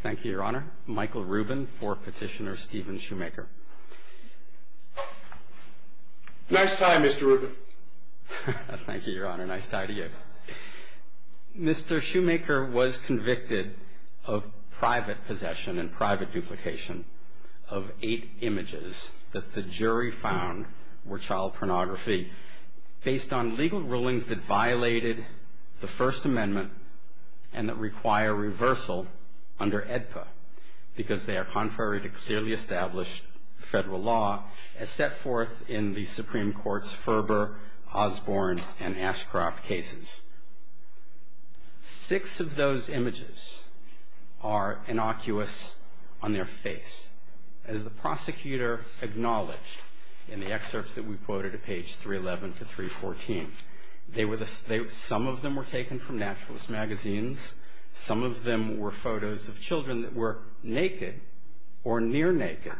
Thank you, Your Honor. Michael Rubin for Petitioner Stephen Shoemaker. Nice tie, Mr. Rubin. Thank you, Your Honor. Nice tie to you. Mr. Shoemaker was convicted of private possession and private duplication of eight images that the jury found were child pornography based on legal rulings that violated the First Amendment and that require reversal under AEDPA because they are contrary to clearly established federal law as set forth in the Supreme Court's Ferber, Osborne, and Ashcroft cases. Six of those images are innocuous on their face. As the prosecutor acknowledged in the excerpts that we quoted at page 311 to 314, some of them were taken from naturalist magazines. Some of them were photos of children that were naked or near naked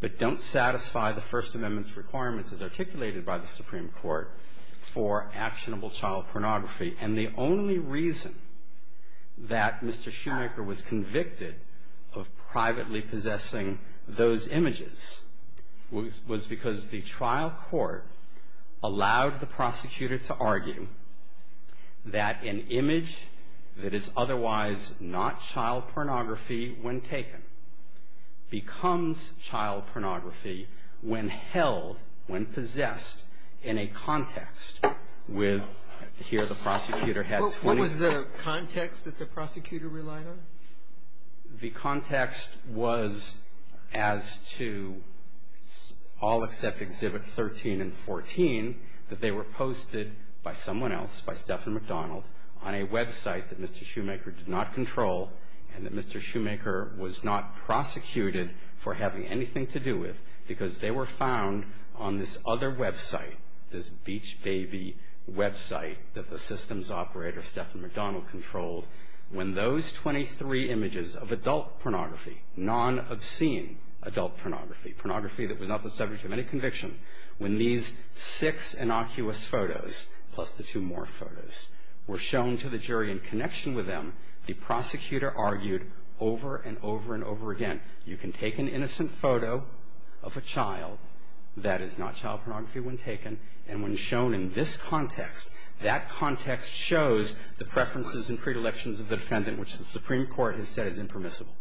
but don't satisfy the First Amendment's requirements as articulated by the Supreme Court for actionable child pornography. And the only reason that Mr. Shoemaker was convicted of privately possessing those images was because the trial court allowed the prosecutor to argue that an image that is otherwise not child pornography when taken becomes child pornography when held, when possessed, in a context with, here the prosecutor had 20 What was the context that the prosecutor relied on? The context was as to all except exhibit 13 and 14, that they were posted by someone else, on a website that Mr. Shoemaker did not control and that Mr. Shoemaker was not prosecuted for having anything to do with because they were found on this other website, this Beach Baby website that the systems operator, when those 23 images of adult pornography, non-obscene adult pornography, pornography that was not the subject of any conviction, when these six innocuous photos plus the two more photos were shown to the jury in connection with them, the prosecutor argued over and over and over again, you can take an innocent photo of a child, that is not child pornography when taken, and when shown in this context, that context shows the preferences and predilections of the defendant which the Supreme Court has said is impermissible.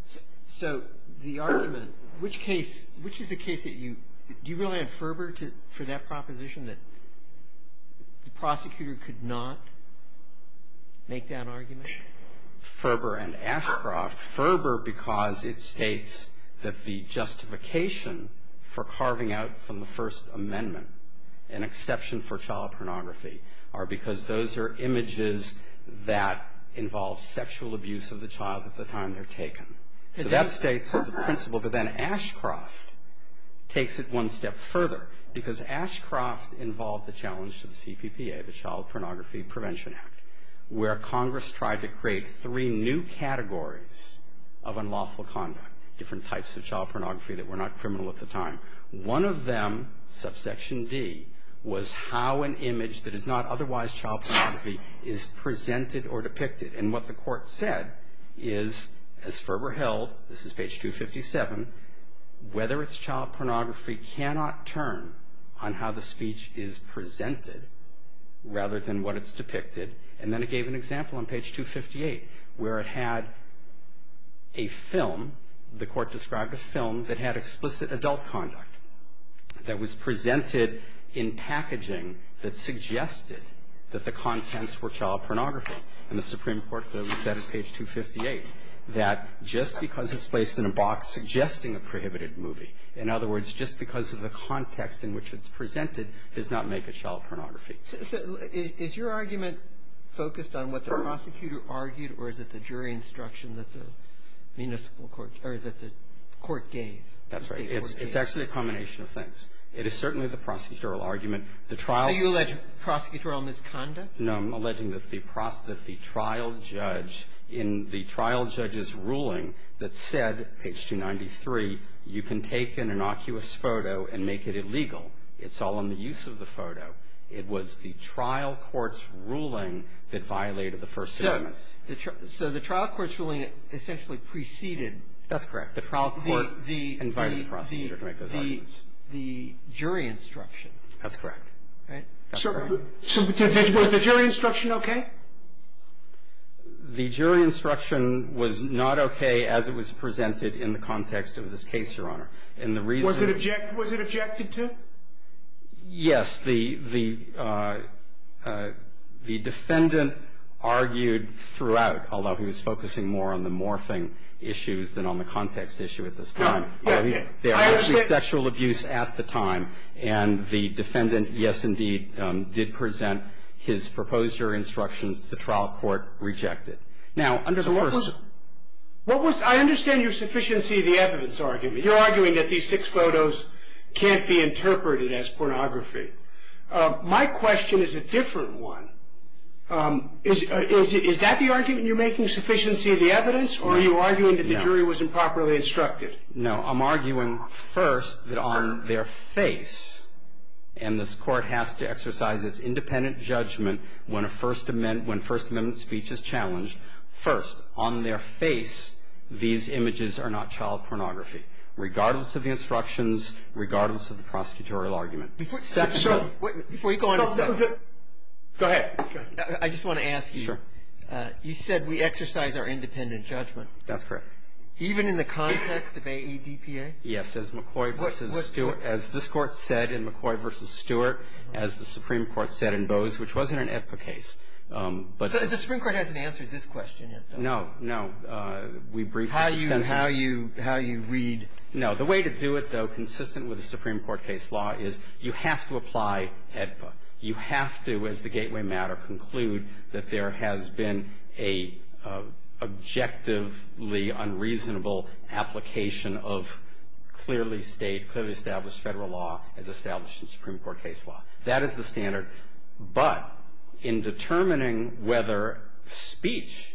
So the argument, which case, which is the case that you, do you really have fervor for that proposition that the prosecutor could not make that argument? Fervor and Ashcroft. Fervor because it states that the justification for carving out from the First Amendment an exception for child pornography are because those are images that involve sexual abuse of the child at the time they're taken. So that states the principle, but then Ashcroft takes it one step further, because Ashcroft involved the challenge to the CPPA, the Child Pornography Prevention Act, where Congress tried to create three new categories of unlawful conduct, different types of child pornography that were not criminal at the time. One of them, subsection D, was how an image that is not otherwise child pornography is presented or depicted. And what the Court said is, as Ferber held, this is page 257, whether it's child pornography cannot turn on how the speech is presented rather than what it's depicted. And then it gave an example on page 258 where it had a film, the Court described a film that had explicit adult conduct that was presented in packaging that suggested that the contents were child pornography. And the Supreme Court said on page 258 that just because it's placed in a box suggesting a prohibited movie, in other words, just because of the context in which it's presented, does not make it child pornography. So is your argument focused on what the prosecutor argued, or is it the jury instruction that the municipal court, or that the court gave? That's right. It's actually a combination of things. It is certainly the prosecutorial argument. The trial of the prosecutorial misconduct? No. I'm alleging that the trial judge in the trial judge's ruling that said, page 293, you can take an innocuous photo and make it illegal. It's all in the use of the photo. It was the trial court's ruling that violated the First Amendment. So the trial court's ruling essentially preceded. That's correct. The trial court invited the prosecutor to make those arguments. The jury instruction. That's correct. Right? Was the jury instruction okay? The jury instruction was not okay as it was presented in the context of this case, Your Honor. Was it objected to? Yes. The defendant argued throughout, although he was focusing more on the morphing issues than on the context issue at this time. Okay. I understand. There was no sexual abuse at the time, and the defendant, yes, indeed, did present his proposed jury instructions. The trial court rejected. Now, under the First Amendment. So what was the – I understand your sufficiency of the evidence argument. You're arguing that these six photos can't be interpreted as pornography. My question is a different one. Is that the argument? You're making sufficiency of the evidence, or are you arguing that the jury was improperly instructed? No. I'm arguing first that on their face, and this court has to exercise its independent judgment when First Amendment speech is challenged, first, on their face, these images are not child pornography, regardless of the instructions, regardless of the prosecutorial argument. Before you go on. Go ahead. I just want to ask you. Sure. You said we exercise our independent judgment. That's correct. Even in the context of AADPA? Yes. As McCoy versus Stewart – as this Court said in McCoy versus Stewart, as the Supreme Court said in Bose, which wasn't an EPPA case. The Supreme Court hasn't answered this question yet, though. No. No. We briefly – How you read – No. The way to do it, though, consistent with the Supreme Court case law, is you have to apply EPPA. You have to, as the gateway matter, conclude that there has been an objectively unreasonable application of clearly state – clearly established federal law as established in Supreme Court case law. That is the standard. But in determining whether speech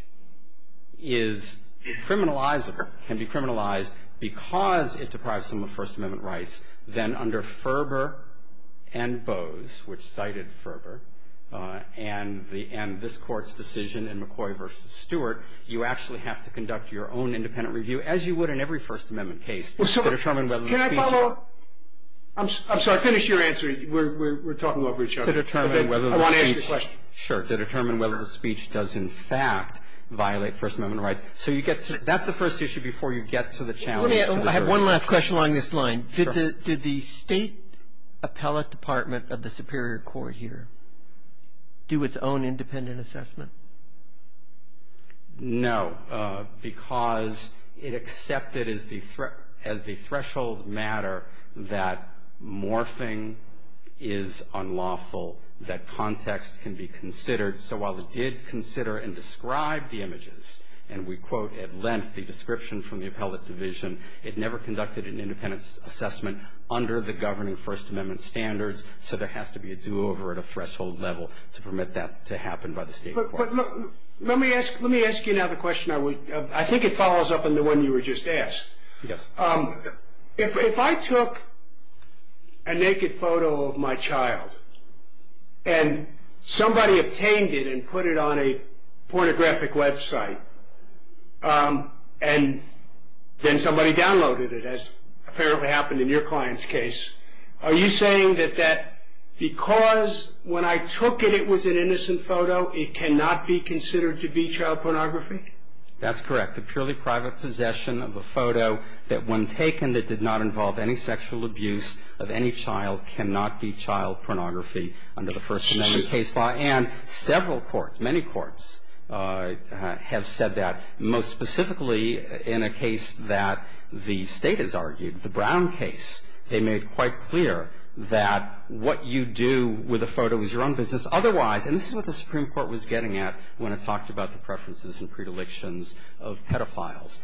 is criminalizable – can be criminalized because it deprives someone of First Amendment rights, then under Ferber and Bose, which cited Ferber, and the – and this Court's decision in McCoy versus Stewart, you actually have to conduct your own independent review, as you would in every First Amendment case, to determine whether the speech – I want to ask you a question. Sure. To determine whether the speech does, in fact, violate First Amendment rights. So you get – that's the first issue before you get to the challenge. I have one last question along this line. Sure. Did the State Appellate Department of the Superior Court here do its own independent assessment? No. Because it accepted as the – as the threshold matter that morphing is unlawful, that context can be considered. So while it did consider and describe the images, and we quote at length the description from the Appellate Division, it never conducted an independent assessment under the governing First Amendment standards. So there has to be a do-over at a threshold level to permit that to happen by the State courts. But let me ask – let me ask you now the question I would – I think it follows up on the one you were just asked. Yes. If I took a naked photo of my child, and somebody obtained it and put it on a pornographic website, and then somebody downloaded it, as apparently happened in your client's case, are you saying that that – because when I took it, it was an under the First Amendment case law, and several courts, many courts, have said that most specifically in a case that the State has argued, the Brown case, they made quite clear that what you do with a photo is your own business. Otherwise – and this is what the Supreme Court was getting at. when it talked about the preferences and predilections of pedophiles.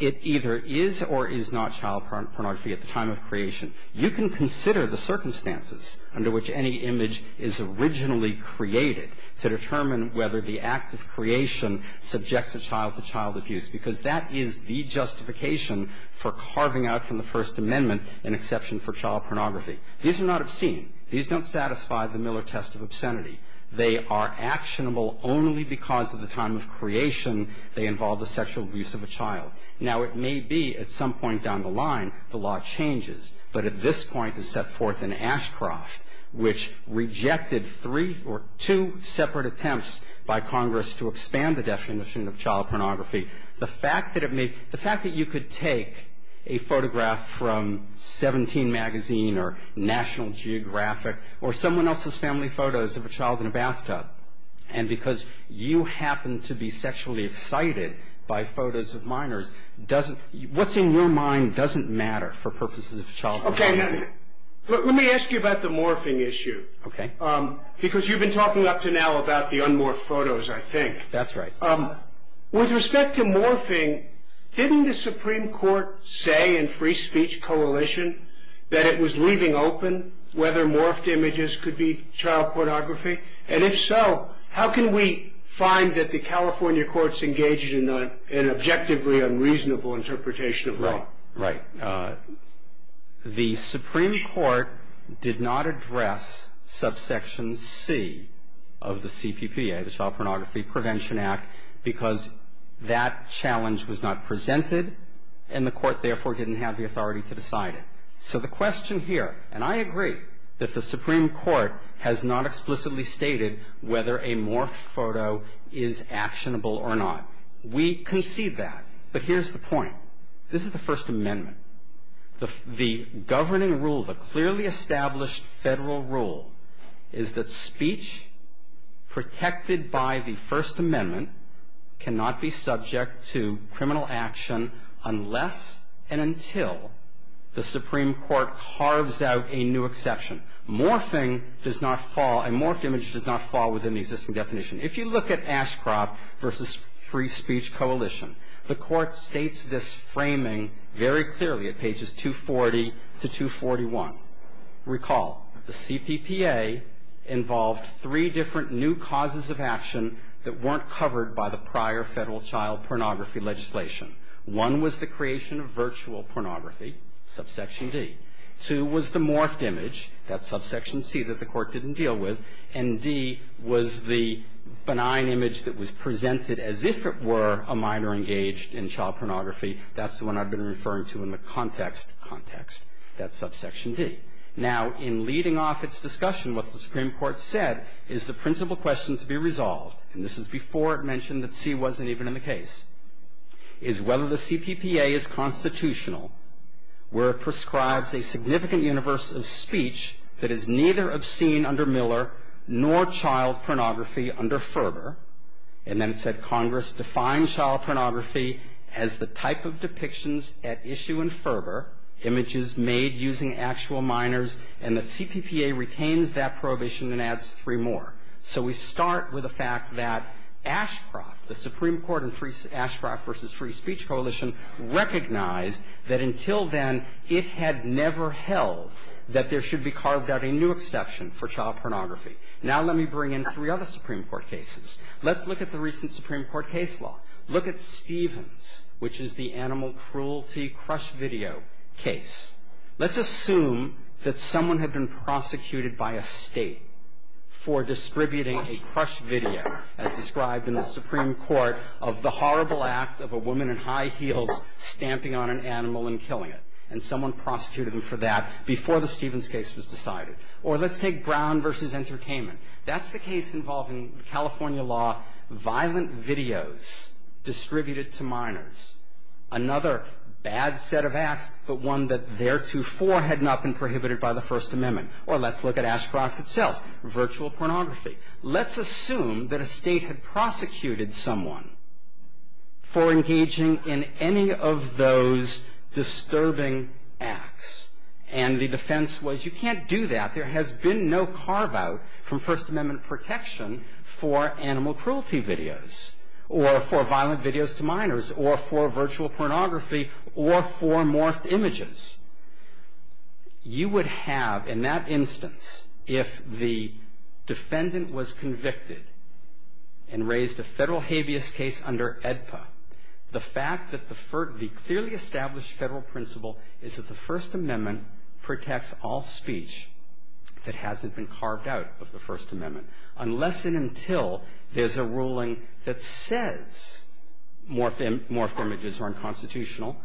It either is or is not child pornography at the time of creation. You can consider the circumstances under which any image is originally created to determine whether the act of creation subjects a child to child abuse, because that is the justification for carving out from the First Amendment an exception for child pornography. These are not obscene. These don't satisfy the Miller test of obscenity. They are actionable only because of the time of creation they involve the sexual abuse of a child. Now, it may be at some point down the line the law changes, but at this point is set forth in Ashcroft, which rejected three or two separate attempts by Congress to expand the definition of child pornography. The fact that it may – the fact that you could take a photograph from Seventeen magazine or National Geographic or someone else's family photos of a child in a bathtub, and because you happen to be sexually excited by photos of minors, doesn't – what's in your mind doesn't matter for purposes of child pornography. Okay. Let me ask you about the morphing issue. Okay. Because you've been talking up to now about the un-morphed photos, I think. That's right. With respect to morphing, didn't the Supreme Court say in Free Speech Coalition that it was leaving open whether morphed images could be child pornography? And if so, how can we find that the California courts engaged in an objectively unreasonable interpretation of law? Right. The Supreme Court did not address subsection C of the CPPA, the Child Pornography Prevention Act, because that challenge was not presented and the court, therefore, didn't have the authority to decide it. So the question here – and I agree that the Supreme Court has not explicitly stated whether a morphed photo is actionable or not. We concede that. But here's the point. This is the First Amendment. The governing rule, the clearly established Federal rule, is that speech protected by the First Amendment cannot be subject to criminal action unless and until the Supreme Court carves out a new exception. Morphing does not fall – a morphed image does not fall within the existing definition. If you look at Ashcroft v. Free Speech Coalition, the court states this framing very clearly at pages 240 to 241. Recall the CPPA involved three different new causes of action that weren't covered by the prior Federal child pornography legislation. One was the creation of virtual pornography, subsection D. Two was the morphed image, that's subsection C, that the court didn't deal with. And D was the benign image that was presented as if it were a minor engaged in child pornography. That's the one I've been referring to in the context, context, that's subsection D. Now, in leading off its discussion, what the Supreme Court said is the principal question to be resolved, and this is before it mentioned that C wasn't even in the case, is whether the CPPA is constitutional where it prescribes a significant universe of speech that is neither obscene under Miller nor child pornography under Ferber. And then it said Congress defined child pornography as the type of depictions at issue in Ferber, images made using actual minors, and the CPPA retains that prohibition and adds three more. So we start with the fact that Ashcroft, the Supreme Court in Ashcroft v. Free Speech Coalition, recognized that until then it had never held that there should be carved out a new exception for child pornography. Now let me bring in three other Supreme Court cases. Let's look at the recent Supreme Court case law. Look at Stevens, which is the animal cruelty crush video case. Let's assume that someone had been prosecuted by a State for distributing a crush video, as described in the Supreme Court, of the horrible act of a woman in high heels stamping on an animal and killing it, and someone prosecuted them for that before the Stevens case was decided. Or let's take Brown v. Entertainment. That's the case involving California law, violent videos distributed to minors. Another bad set of acts, but one that theretofore had not been prohibited by the First Amendment. Or let's look at Ashcroft itself, virtual pornography. Let's assume that a State had prosecuted someone for engaging in any of those disturbing acts, and the defense was, you can't do that. There has been no carve-out from First Amendment protection for animal cruelty videos, or for violent videos to minors, or for virtual pornography, or for morphed images. You would have, in that instance, if the defendant was convicted and raised a the clearly established Federal principle is that the First Amendment protects all speech that hasn't been carved out of the First Amendment, unless and until there's a ruling that says morphed images are unconstitutional.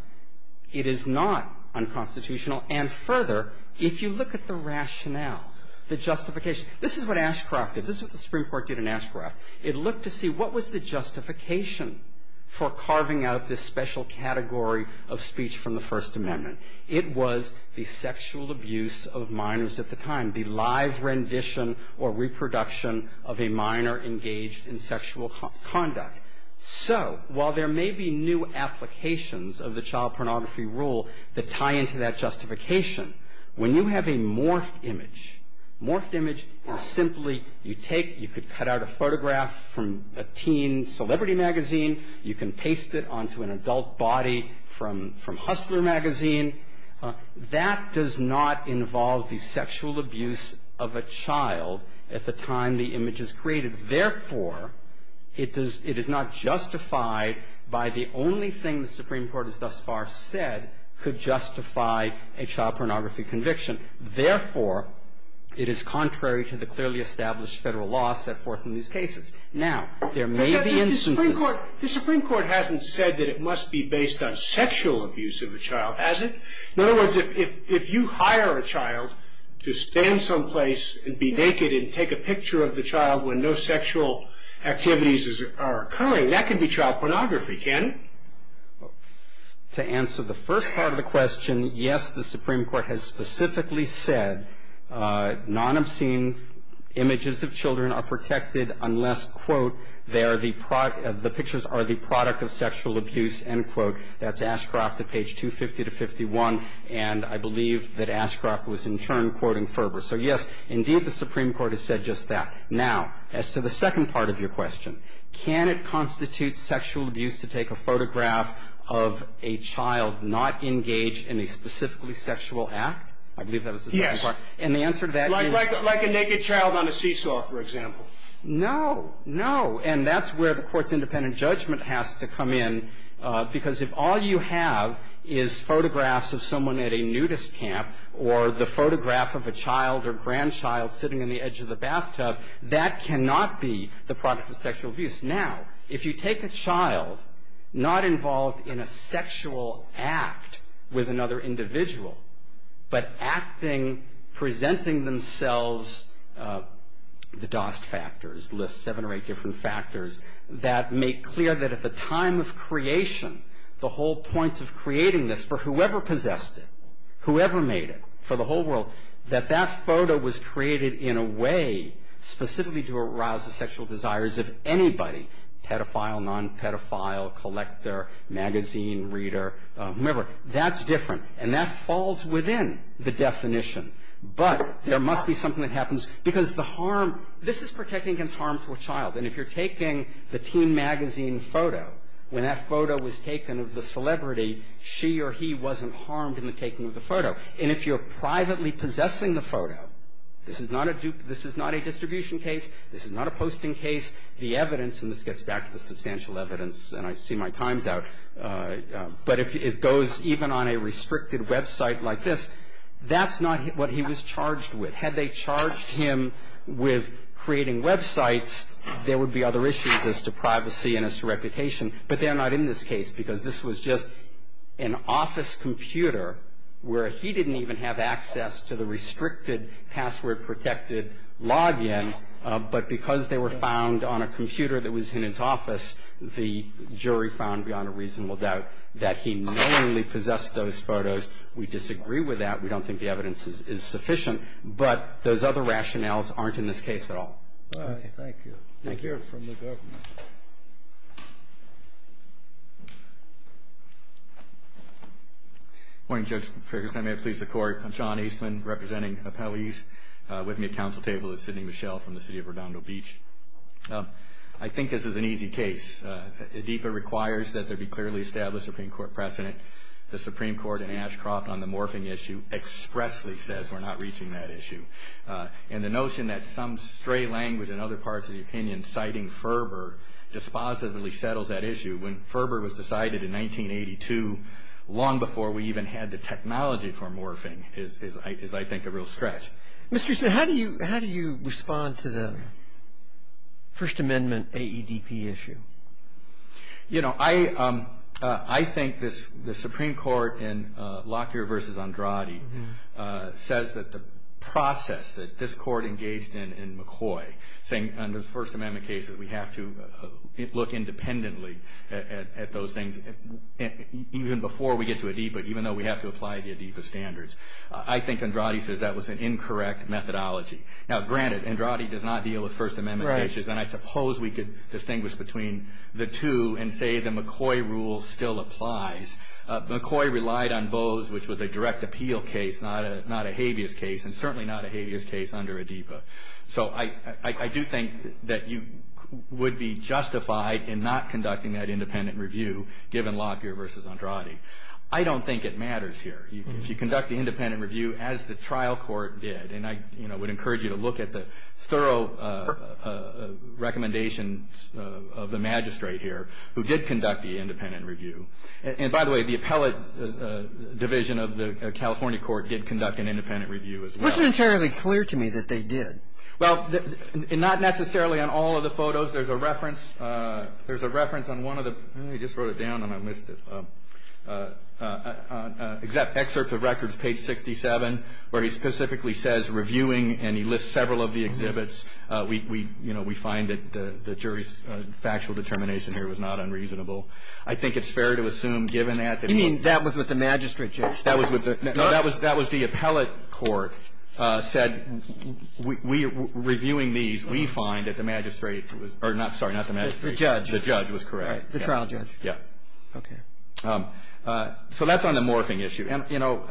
It is not unconstitutional. And further, if you look at the rationale, the justification, this is what Ashcroft This is what the Supreme Court did in Ashcroft. It looked to see what was the justification for carving out this special category of speech from the First Amendment. It was the sexual abuse of minors at the time, the live rendition or reproduction of a minor engaged in sexual conduct. So while there may be new applications of the child pornography rule that tie into that justification, when you have a morphed image, morphed image is simply you take it, you could cut out a photograph from a teen celebrity magazine, you can paste it onto an adult body from Hustler magazine. That does not involve the sexual abuse of a child at the time the image is created. Therefore, it is not justified by the only thing the Supreme Court has thus far said could justify a child pornography conviction. Therefore, it is contrary to the clearly established Federal law set forth in these cases. Now, there may be instances of the Supreme Court hasn't said that it must be based on sexual abuse of a child, has it? In other words, if you hire a child to stand someplace and be naked and take a picture of the child when no sexual activities are occurring, that could be child pornography, can't it? To answer the first part of the question, yes, the Supreme Court has specifically said non-obscene images of children are protected unless, quote, they are the product, the pictures are the product of sexual abuse, end quote. That's Ashcroft at page 250 to 51. And I believe that Ashcroft was in turn quoting Ferber. So, yes, indeed the Supreme Court has said just that. Now, as to the second part of your question, can it constitute sexual abuse to take a photograph of a child not engaged in a specifically sexual act? I believe that was the second part. Yes. And the answer to that is? Like a naked child on a seesaw, for example. No. No. And that's where the Court's independent judgment has to come in, because if all you have is photographs of someone at a nudist camp or the photograph of a child or grandchild sitting on the edge of the bathtub, that cannot be the product of sexual abuse. Now, if you take a child not involved in a sexual act with another individual, but acting, presenting themselves, the Dost factors list seven or eight different factors that make clear that at the time of creation, the whole point of creating this for whoever possessed it, whoever made it, for the whole world, that that photo was created in a way specifically to arouse the sexual desires of anybody, pedophile, non-pedophile, collector, magazine reader, whomever. That's different. And that falls within the definition. But there must be something that happens, because the harm – this is protecting against harm to a child. And if you're taking the teen magazine photo, when that photo was taken of the celebrity, she or he wasn't harmed in the taking of the photo. And if you're privately possessing the photo, this is not a distribution case. This is not a posting case. The evidence – and this gets back to the substantial evidence, and I see my times out – but if it goes even on a restricted website like this, that's not what he was charged with. Had they charged him with creating websites, there would be other issues as to privacy and as to reputation. But they're not in this case, because this was just an office computer where he didn't even have access to the restricted password-protected login. But because they were found on a computer that was in his office, the jury found beyond a reasonable doubt that he knowingly possessed those photos. We disagree with that. We don't think the evidence is sufficient. But those other rationales aren't in this case at all. All right. Thank you. Thank you. From the government. Morning, Judge Ferguson. I may have pleased the Court. I'm John Eastman, representing appellees. With me at council table is Sidney Michel from the city of Redondo Beach. I think this is an easy case. ADIPA requires that there be clearly established Supreme Court precedent. The Supreme Court in Ashcroft on the morphing issue expressly says we're not reaching that issue. And the notion that some stray language in other parts of the opinion citing Ferber dispositively settles that issue. When Ferber was decided in 1982, long before we even had the technology for morphing, is, I think, a real stretch. Mr. Eastman, how do you respond to the First Amendment AEDP issue? You know, I think the Supreme Court in Lockyer v. Andrade says that the process that this Court engaged in in McCoy, saying, under the First Amendment cases, we have to look independently at those things even before we get to ADIPA, even though we have to apply the ADIPA standards. I think Andrade says that was an incorrect methodology. Now, granted, Andrade does not deal with First Amendment issues. Right. And I suppose we could distinguish between the two and say the McCoy rule still applies. McCoy relied on Bose, which was a direct appeal case, not a habeas case, and certainly not a habeas case under ADIPA. So I do think that you would be justified in not conducting that independent review, given Lockyer v. Andrade. I don't think it matters here. If you conduct the independent review, as the trial court did, and I would encourage you to look at the thorough recommendations of the magistrate here who did conduct the independent review. And by the way, the appellate division of the California court did conduct an independent review as well. It wasn't entirely clear to me that they did. Well, not necessarily on all of the photos. There's a reference on one of the – I just wrote it down and I missed it – excerpts of records, page 67, where he specifically says, reviewing, and he lists several of the exhibits, we find that the jury's factual determination here was not unreasonable. I think it's fair to assume, given that the – You mean that was with the magistrate judge? That was with the – no, that was the appellate court said, reviewing these, we find that the magistrate – or, sorry, not the magistrate. The judge. The judge was correct. All right. The trial judge. Yeah. Okay. So that's on the morphing issue. And, you know,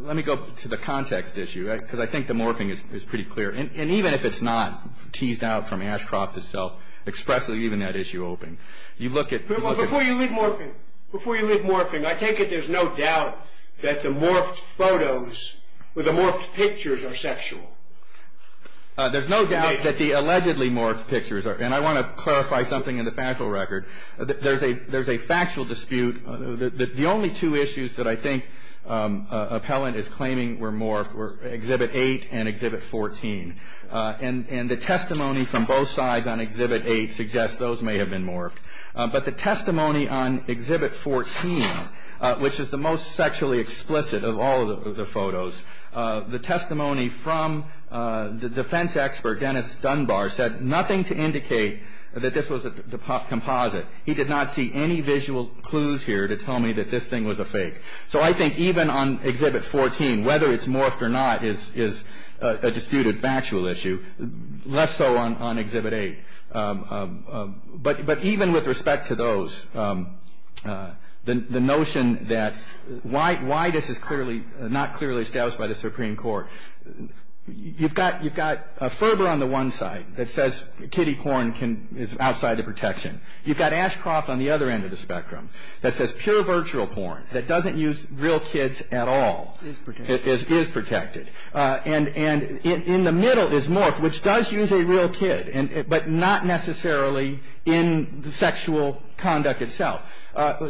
let me go to the context issue, because I think the morphing is pretty clear. And even if it's not teased out from Ashcroft itself, expressly, even that issue open. You look at – Before you leave morphing, before you leave morphing, I take it there's no doubt that the morphed photos – or the morphed pictures are sexual? There's no doubt that the allegedly morphed pictures are – and I want to clarify something in the factual record. There's a factual dispute. The only two issues that I think appellant is claiming were morphed were exhibit 8 and exhibit 14. And the testimony from both sides on exhibit 8 suggests those may have been morphed. But the testimony on exhibit 14, which is the most sexually explicit of all of the photos, the testimony from the defense expert, Dennis Dunbar, said nothing to indicate that this was a composite. He did not see any visual clues here to tell me that this thing was a fake. So I think even on exhibit 14, whether it's morphed or not is a disputed factual issue. Less so on exhibit 8. But even with respect to those, the notion that – why this is not clearly established by the Supreme Court. You've got Ferber on the one side that says kiddie porn is outside the protection. You've got Ashcroft on the other end of the spectrum that says pure virtual porn that doesn't use real kids at all is protected. And in the middle is morphed, which does use a real kid, but not necessarily in the sexual conduct itself.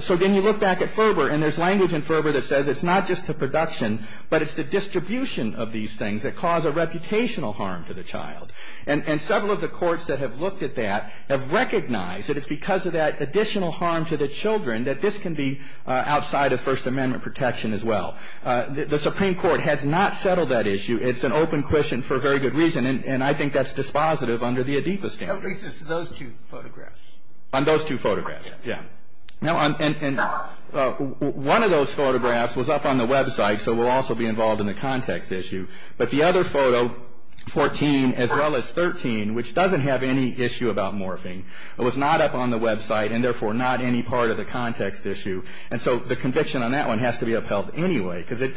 So then you look back at Ferber, and there's language in Ferber that says it's not just the production, but it's the distribution of these things that cause a reputational harm to the child. And several of the courts that have looked at that have recognized that it's because of that additional harm to the children that this can be outside of First Amendment protection as well. The Supreme Court has not settled that issue. It's an open question for a very good reason, and I think that's dispositive under the Adipa stand. At least it's those two photographs. On those two photographs, yeah. And one of those photographs was up on the website, so we'll also be involved in the context issue. But the other photo, 14, as well as 13, which doesn't have any issue about morphing, was not up on the website and therefore not any part of the context issue. And so the conviction on that one has to be upheld anyway, because it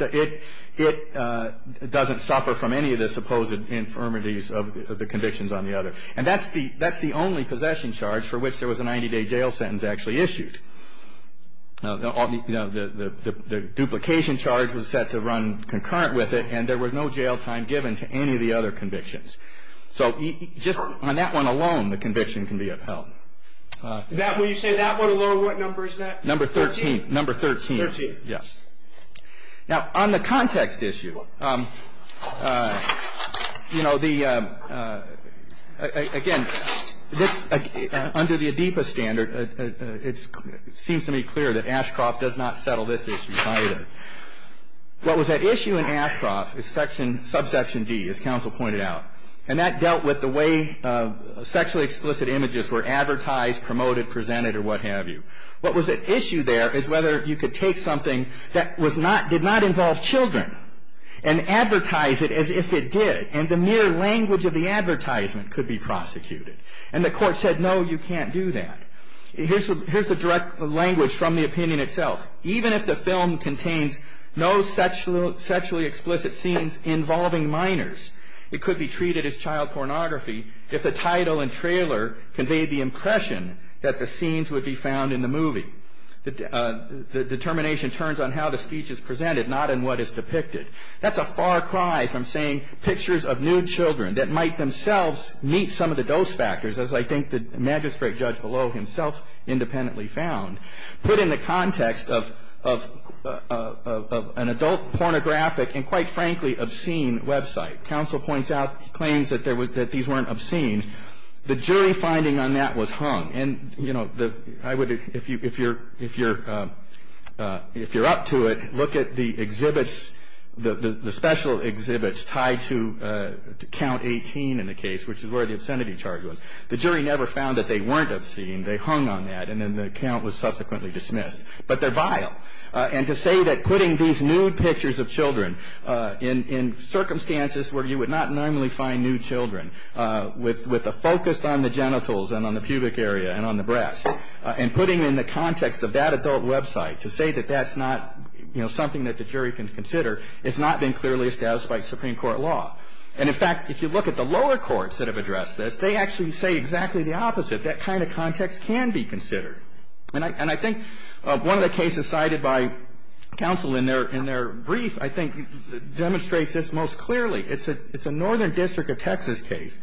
doesn't suffer from any of the supposed infirmities of the convictions on the other. And that's the only possession charge for which there was a 90-day jail sentence actually issued. The duplication charge was set to run concurrent with it, and there was no jail time given to any of the other convictions. So just on that one alone, the conviction can be upheld. That one, you say that one alone, what number is that? Number 13. Number 13. Thirteen. Yes. Now, on the context issue, you know, the, again, this, under the Adipa standard, it seems to me clear that Ashcroft does not settle this issue either. What was at issue in Ashcroft is subsection D, as counsel pointed out. And that dealt with the way sexually explicit images were advertised, promoted, presented, or what have you. What was at issue there is whether you could take something that did not involve children and advertise it as if it did, and the mere language of the advertisement could be prosecuted. And the Court said, no, you can't do that. Here's the direct language from the opinion itself. Even if the film contains no sexually explicit scenes involving minors, it could be treated as child pornography if the title and trailer conveyed the impression that the scenes would be found in the movie. The determination turns on how the speech is presented, not in what is depicted. That's a far cry from saying pictures of nude children that might themselves meet some of the dose factors, as I think the magistrate judge below himself independently found, put in the context of an adult pornographic and, quite frankly, obscene website. Counsel points out, claims that these weren't obscene. The jury finding on that was hung. And, you know, I would, if you're up to it, look at the exhibits, the special exhibits tied to count 18 in the case, which is where the obscenity charge was. The jury never found that they weren't obscene. They hung on that, and then the count was subsequently dismissed. But they're vile. And to say that putting these nude pictures of children in circumstances where you would not normally find nude children with a focus on the genitals and on the pubic area and on the breast, and putting it in the context of that adult website, to say that that's not, you know, something that the jury can consider, has not been clearly established by Supreme Court law. And, in fact, if you look at the lower courts that have addressed this, they actually say exactly the opposite. That kind of context can be considered. And I think one of the cases cited by counsel in their brief, I think, demonstrates this most clearly. It's a Northern District of Texas case.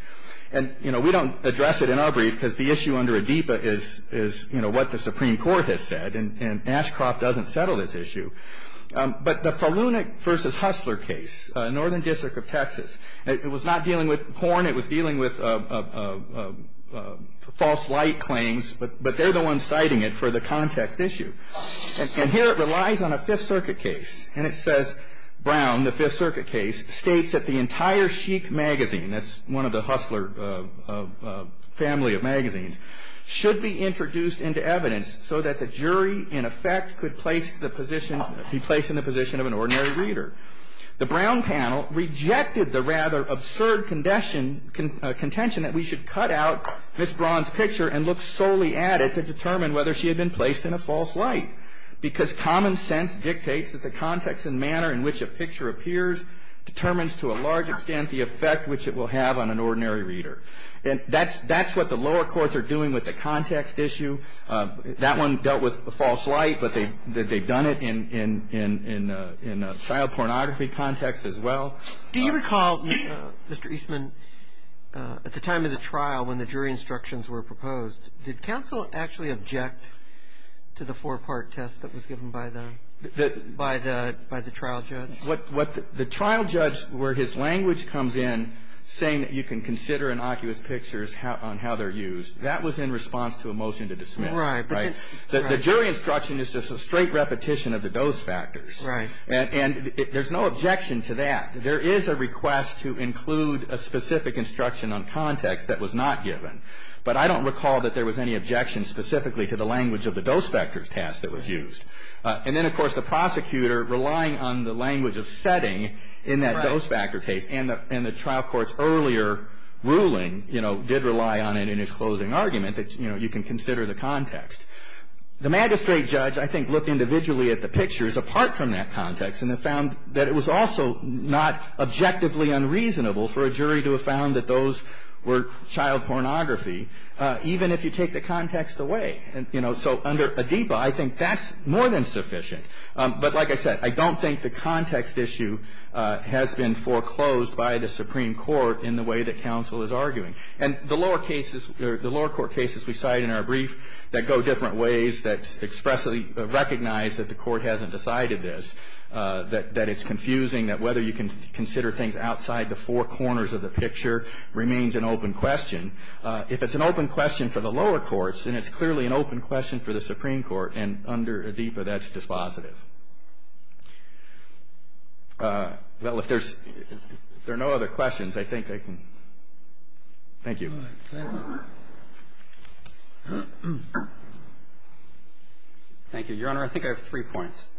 And, you know, we don't address it in our brief, because the issue under ADIPA is, you know, what the Supreme Court has said. And Ashcroft doesn't settle this issue. But the Falunek v. Hustler case, Northern District of Texas, it was not dealing with porn. It was dealing with false light claims. But they're the ones citing it for the context issue. And here it relies on a Fifth Circuit case. And it says, Brown, the Fifth Circuit case, states that the entire Chic magazine that's one of the Hustler family of magazines, should be introduced into evidence so that the jury, in effect, could place the position, be placed in the position of an ordinary reader. The Brown panel rejected the rather absurd contention that we should cut out Ms. Braun's picture and look solely at it to determine whether she had been placed in a false light, because common sense dictates that the context and manner in which a picture appears determines to a large extent the effect which it will have on an ordinary reader. And that's what the lower courts are doing with the context issue. That one dealt with false light, but they've done it in a child pornography context as well. Do you recall, Mr. Eastman, at the time of the trial when the jury instructions were proposed, did counsel actually object to the four-part test that was given by the trial judge? The trial judge, where his language comes in saying that you can consider innocuous pictures on how they're used, that was in response to a motion to dismiss, right? The jury instruction is just a straight repetition of the dose factors. Right. And there's no objection to that. There is a request to include a specific instruction on context that was not given. But I don't recall that there was any objection specifically to the language of the dose factors test that was used. And then, of course, the prosecutor relying on the language of setting in that dose factor case, and the trial court's earlier ruling, you know, did rely on it in his context. The magistrate judge, I think, looked individually at the pictures apart from that context and found that it was also not objectively unreasonable for a jury to have found that those were child pornography, even if you take the context away. And, you know, so under ADIPA, I think that's more than sufficient. But like I said, I don't think the context issue has been foreclosed by the Supreme Court in the way that counsel is arguing. And the lower cases, the lower court cases we cite in our brief that go different ways, that expressly recognize that the court hasn't decided this, that it's confusing, that whether you can consider things outside the four corners of the picture remains an open question. If it's an open question for the lower courts, then it's clearly an open question for the Supreme Court. And under ADIPA, that's dispositive. Well, if there's no other questions, I think I can. Thank you. Thank you. Your Honor, I think I have three points.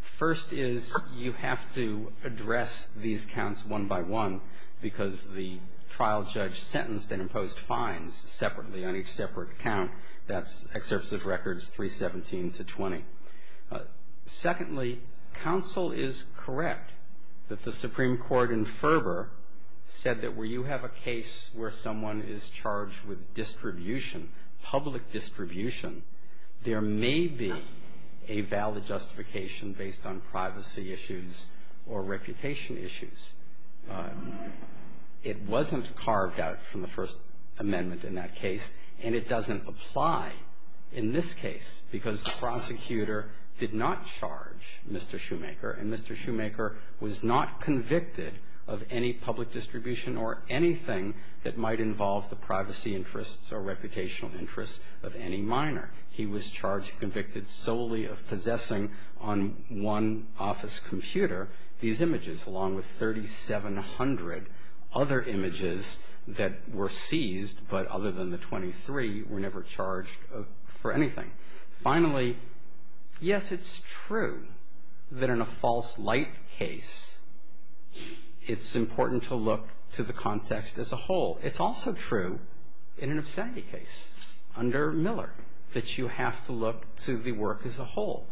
First is you have to address these counts one by one because the trial judge sentenced and imposed fines separately on each separate count. That's Excerpts of Records 317 to 20. Secondly, counsel is correct that the Supreme Court in Ferber said that where you have a case where someone is charged with distribution, public distribution, there may be a valid justification based on privacy issues or reputation issues. It wasn't carved out from the First Amendment in that case, and it doesn't apply in this case because the prosecutor did not charge Mr. Shoemaker, and Mr. Shoemaker was not charged with anything that might involve the privacy interests or reputational interests of any minor. He was charged and convicted solely of possessing on one office computer these images along with 3,700 other images that were seized but other than the 23 were never charged for anything. Finally, yes, it's true that in a false light case, it's important to look to the context as a whole. It's also true in an obscenity case under Miller that you have to look to the work as a whole.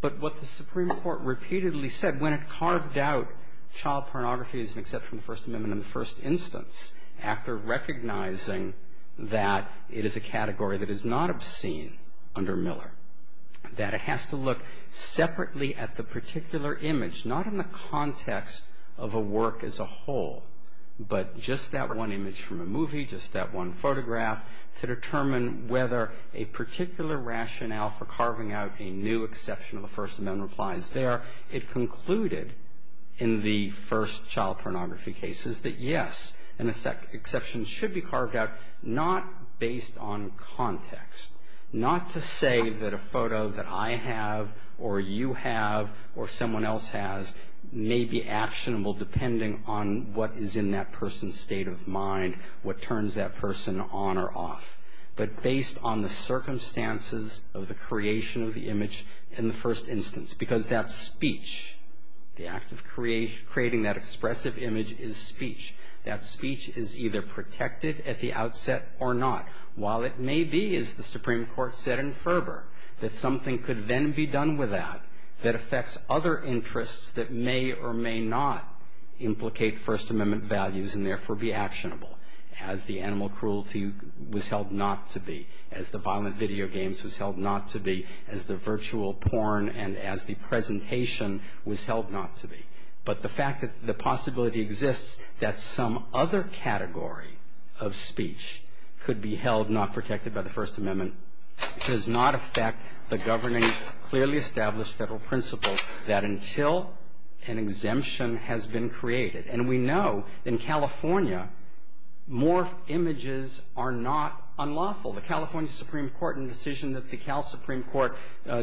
But what the Supreme Court repeatedly said when it carved out child pornography as an exception to the First Amendment in the first instance after recognizing that it is a category that is not obscene under Miller, that it has to look separately at the particular image, not in the context of a work as a whole, but just that one image from a movie, just that one photograph to determine whether a particular rationale for carving out a new exception of the First Amendment applies there. It concluded in the first child pornography cases that, yes, an exception should be carved out not based on context, not to say that a photo that I have or you have or someone else has may be actionable depending on what is in that person's state of mind, what turns that person on or off, but based on the circumstances of the creation of the image in the first instance. Because that speech, the act of creating that expressive image is speech. That speech is either protected at the outset or not. While it may be, as the Supreme Court said in Ferber, that something could then be done with that that affects other interests that may or may not implicate First Amendment values and therefore be actionable, as the animal cruelty was held not to be, as the violent video games was held not to be, as the virtual porn and as the presentation was held not to be. But the fact that the possibility exists that some other category of speech could be held not protected by the First Amendment does not affect the governing, clearly established federal principles that until an exemption has been created. And we know in California more images are not unlawful. The California Supreme Court in the decision that the Cal Supreme Court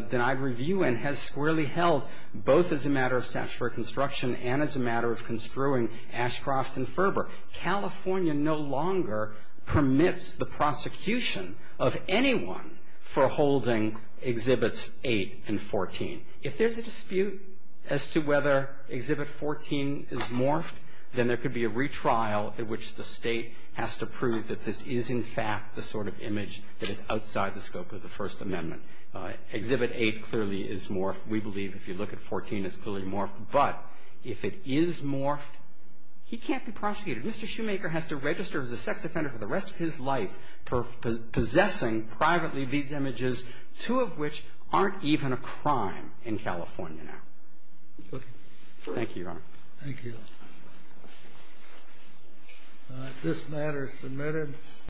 denied review in has squarely held both as a matter of statutory construction and as a matter of construing Ashcroft and Ferber. California no longer permits the prosecution of anyone for holding Exhibits 8 and 14. If there's a dispute as to whether Exhibit 14 is morphed, then there could be a retrial at which the State has to prove that this is, in fact, the sort of image that is outside the scope of the First Amendment. Exhibit 8 clearly is morphed. We believe if you look at 14, it's clearly morphed. But if it is morphed, he can't be prosecuted. Mr. Shoemaker has to register as a sex offender for the rest of his life possessing privately these images, two of which aren't even a crime in California now. Thank you, Your Honor. Thank you. This matter is submitted.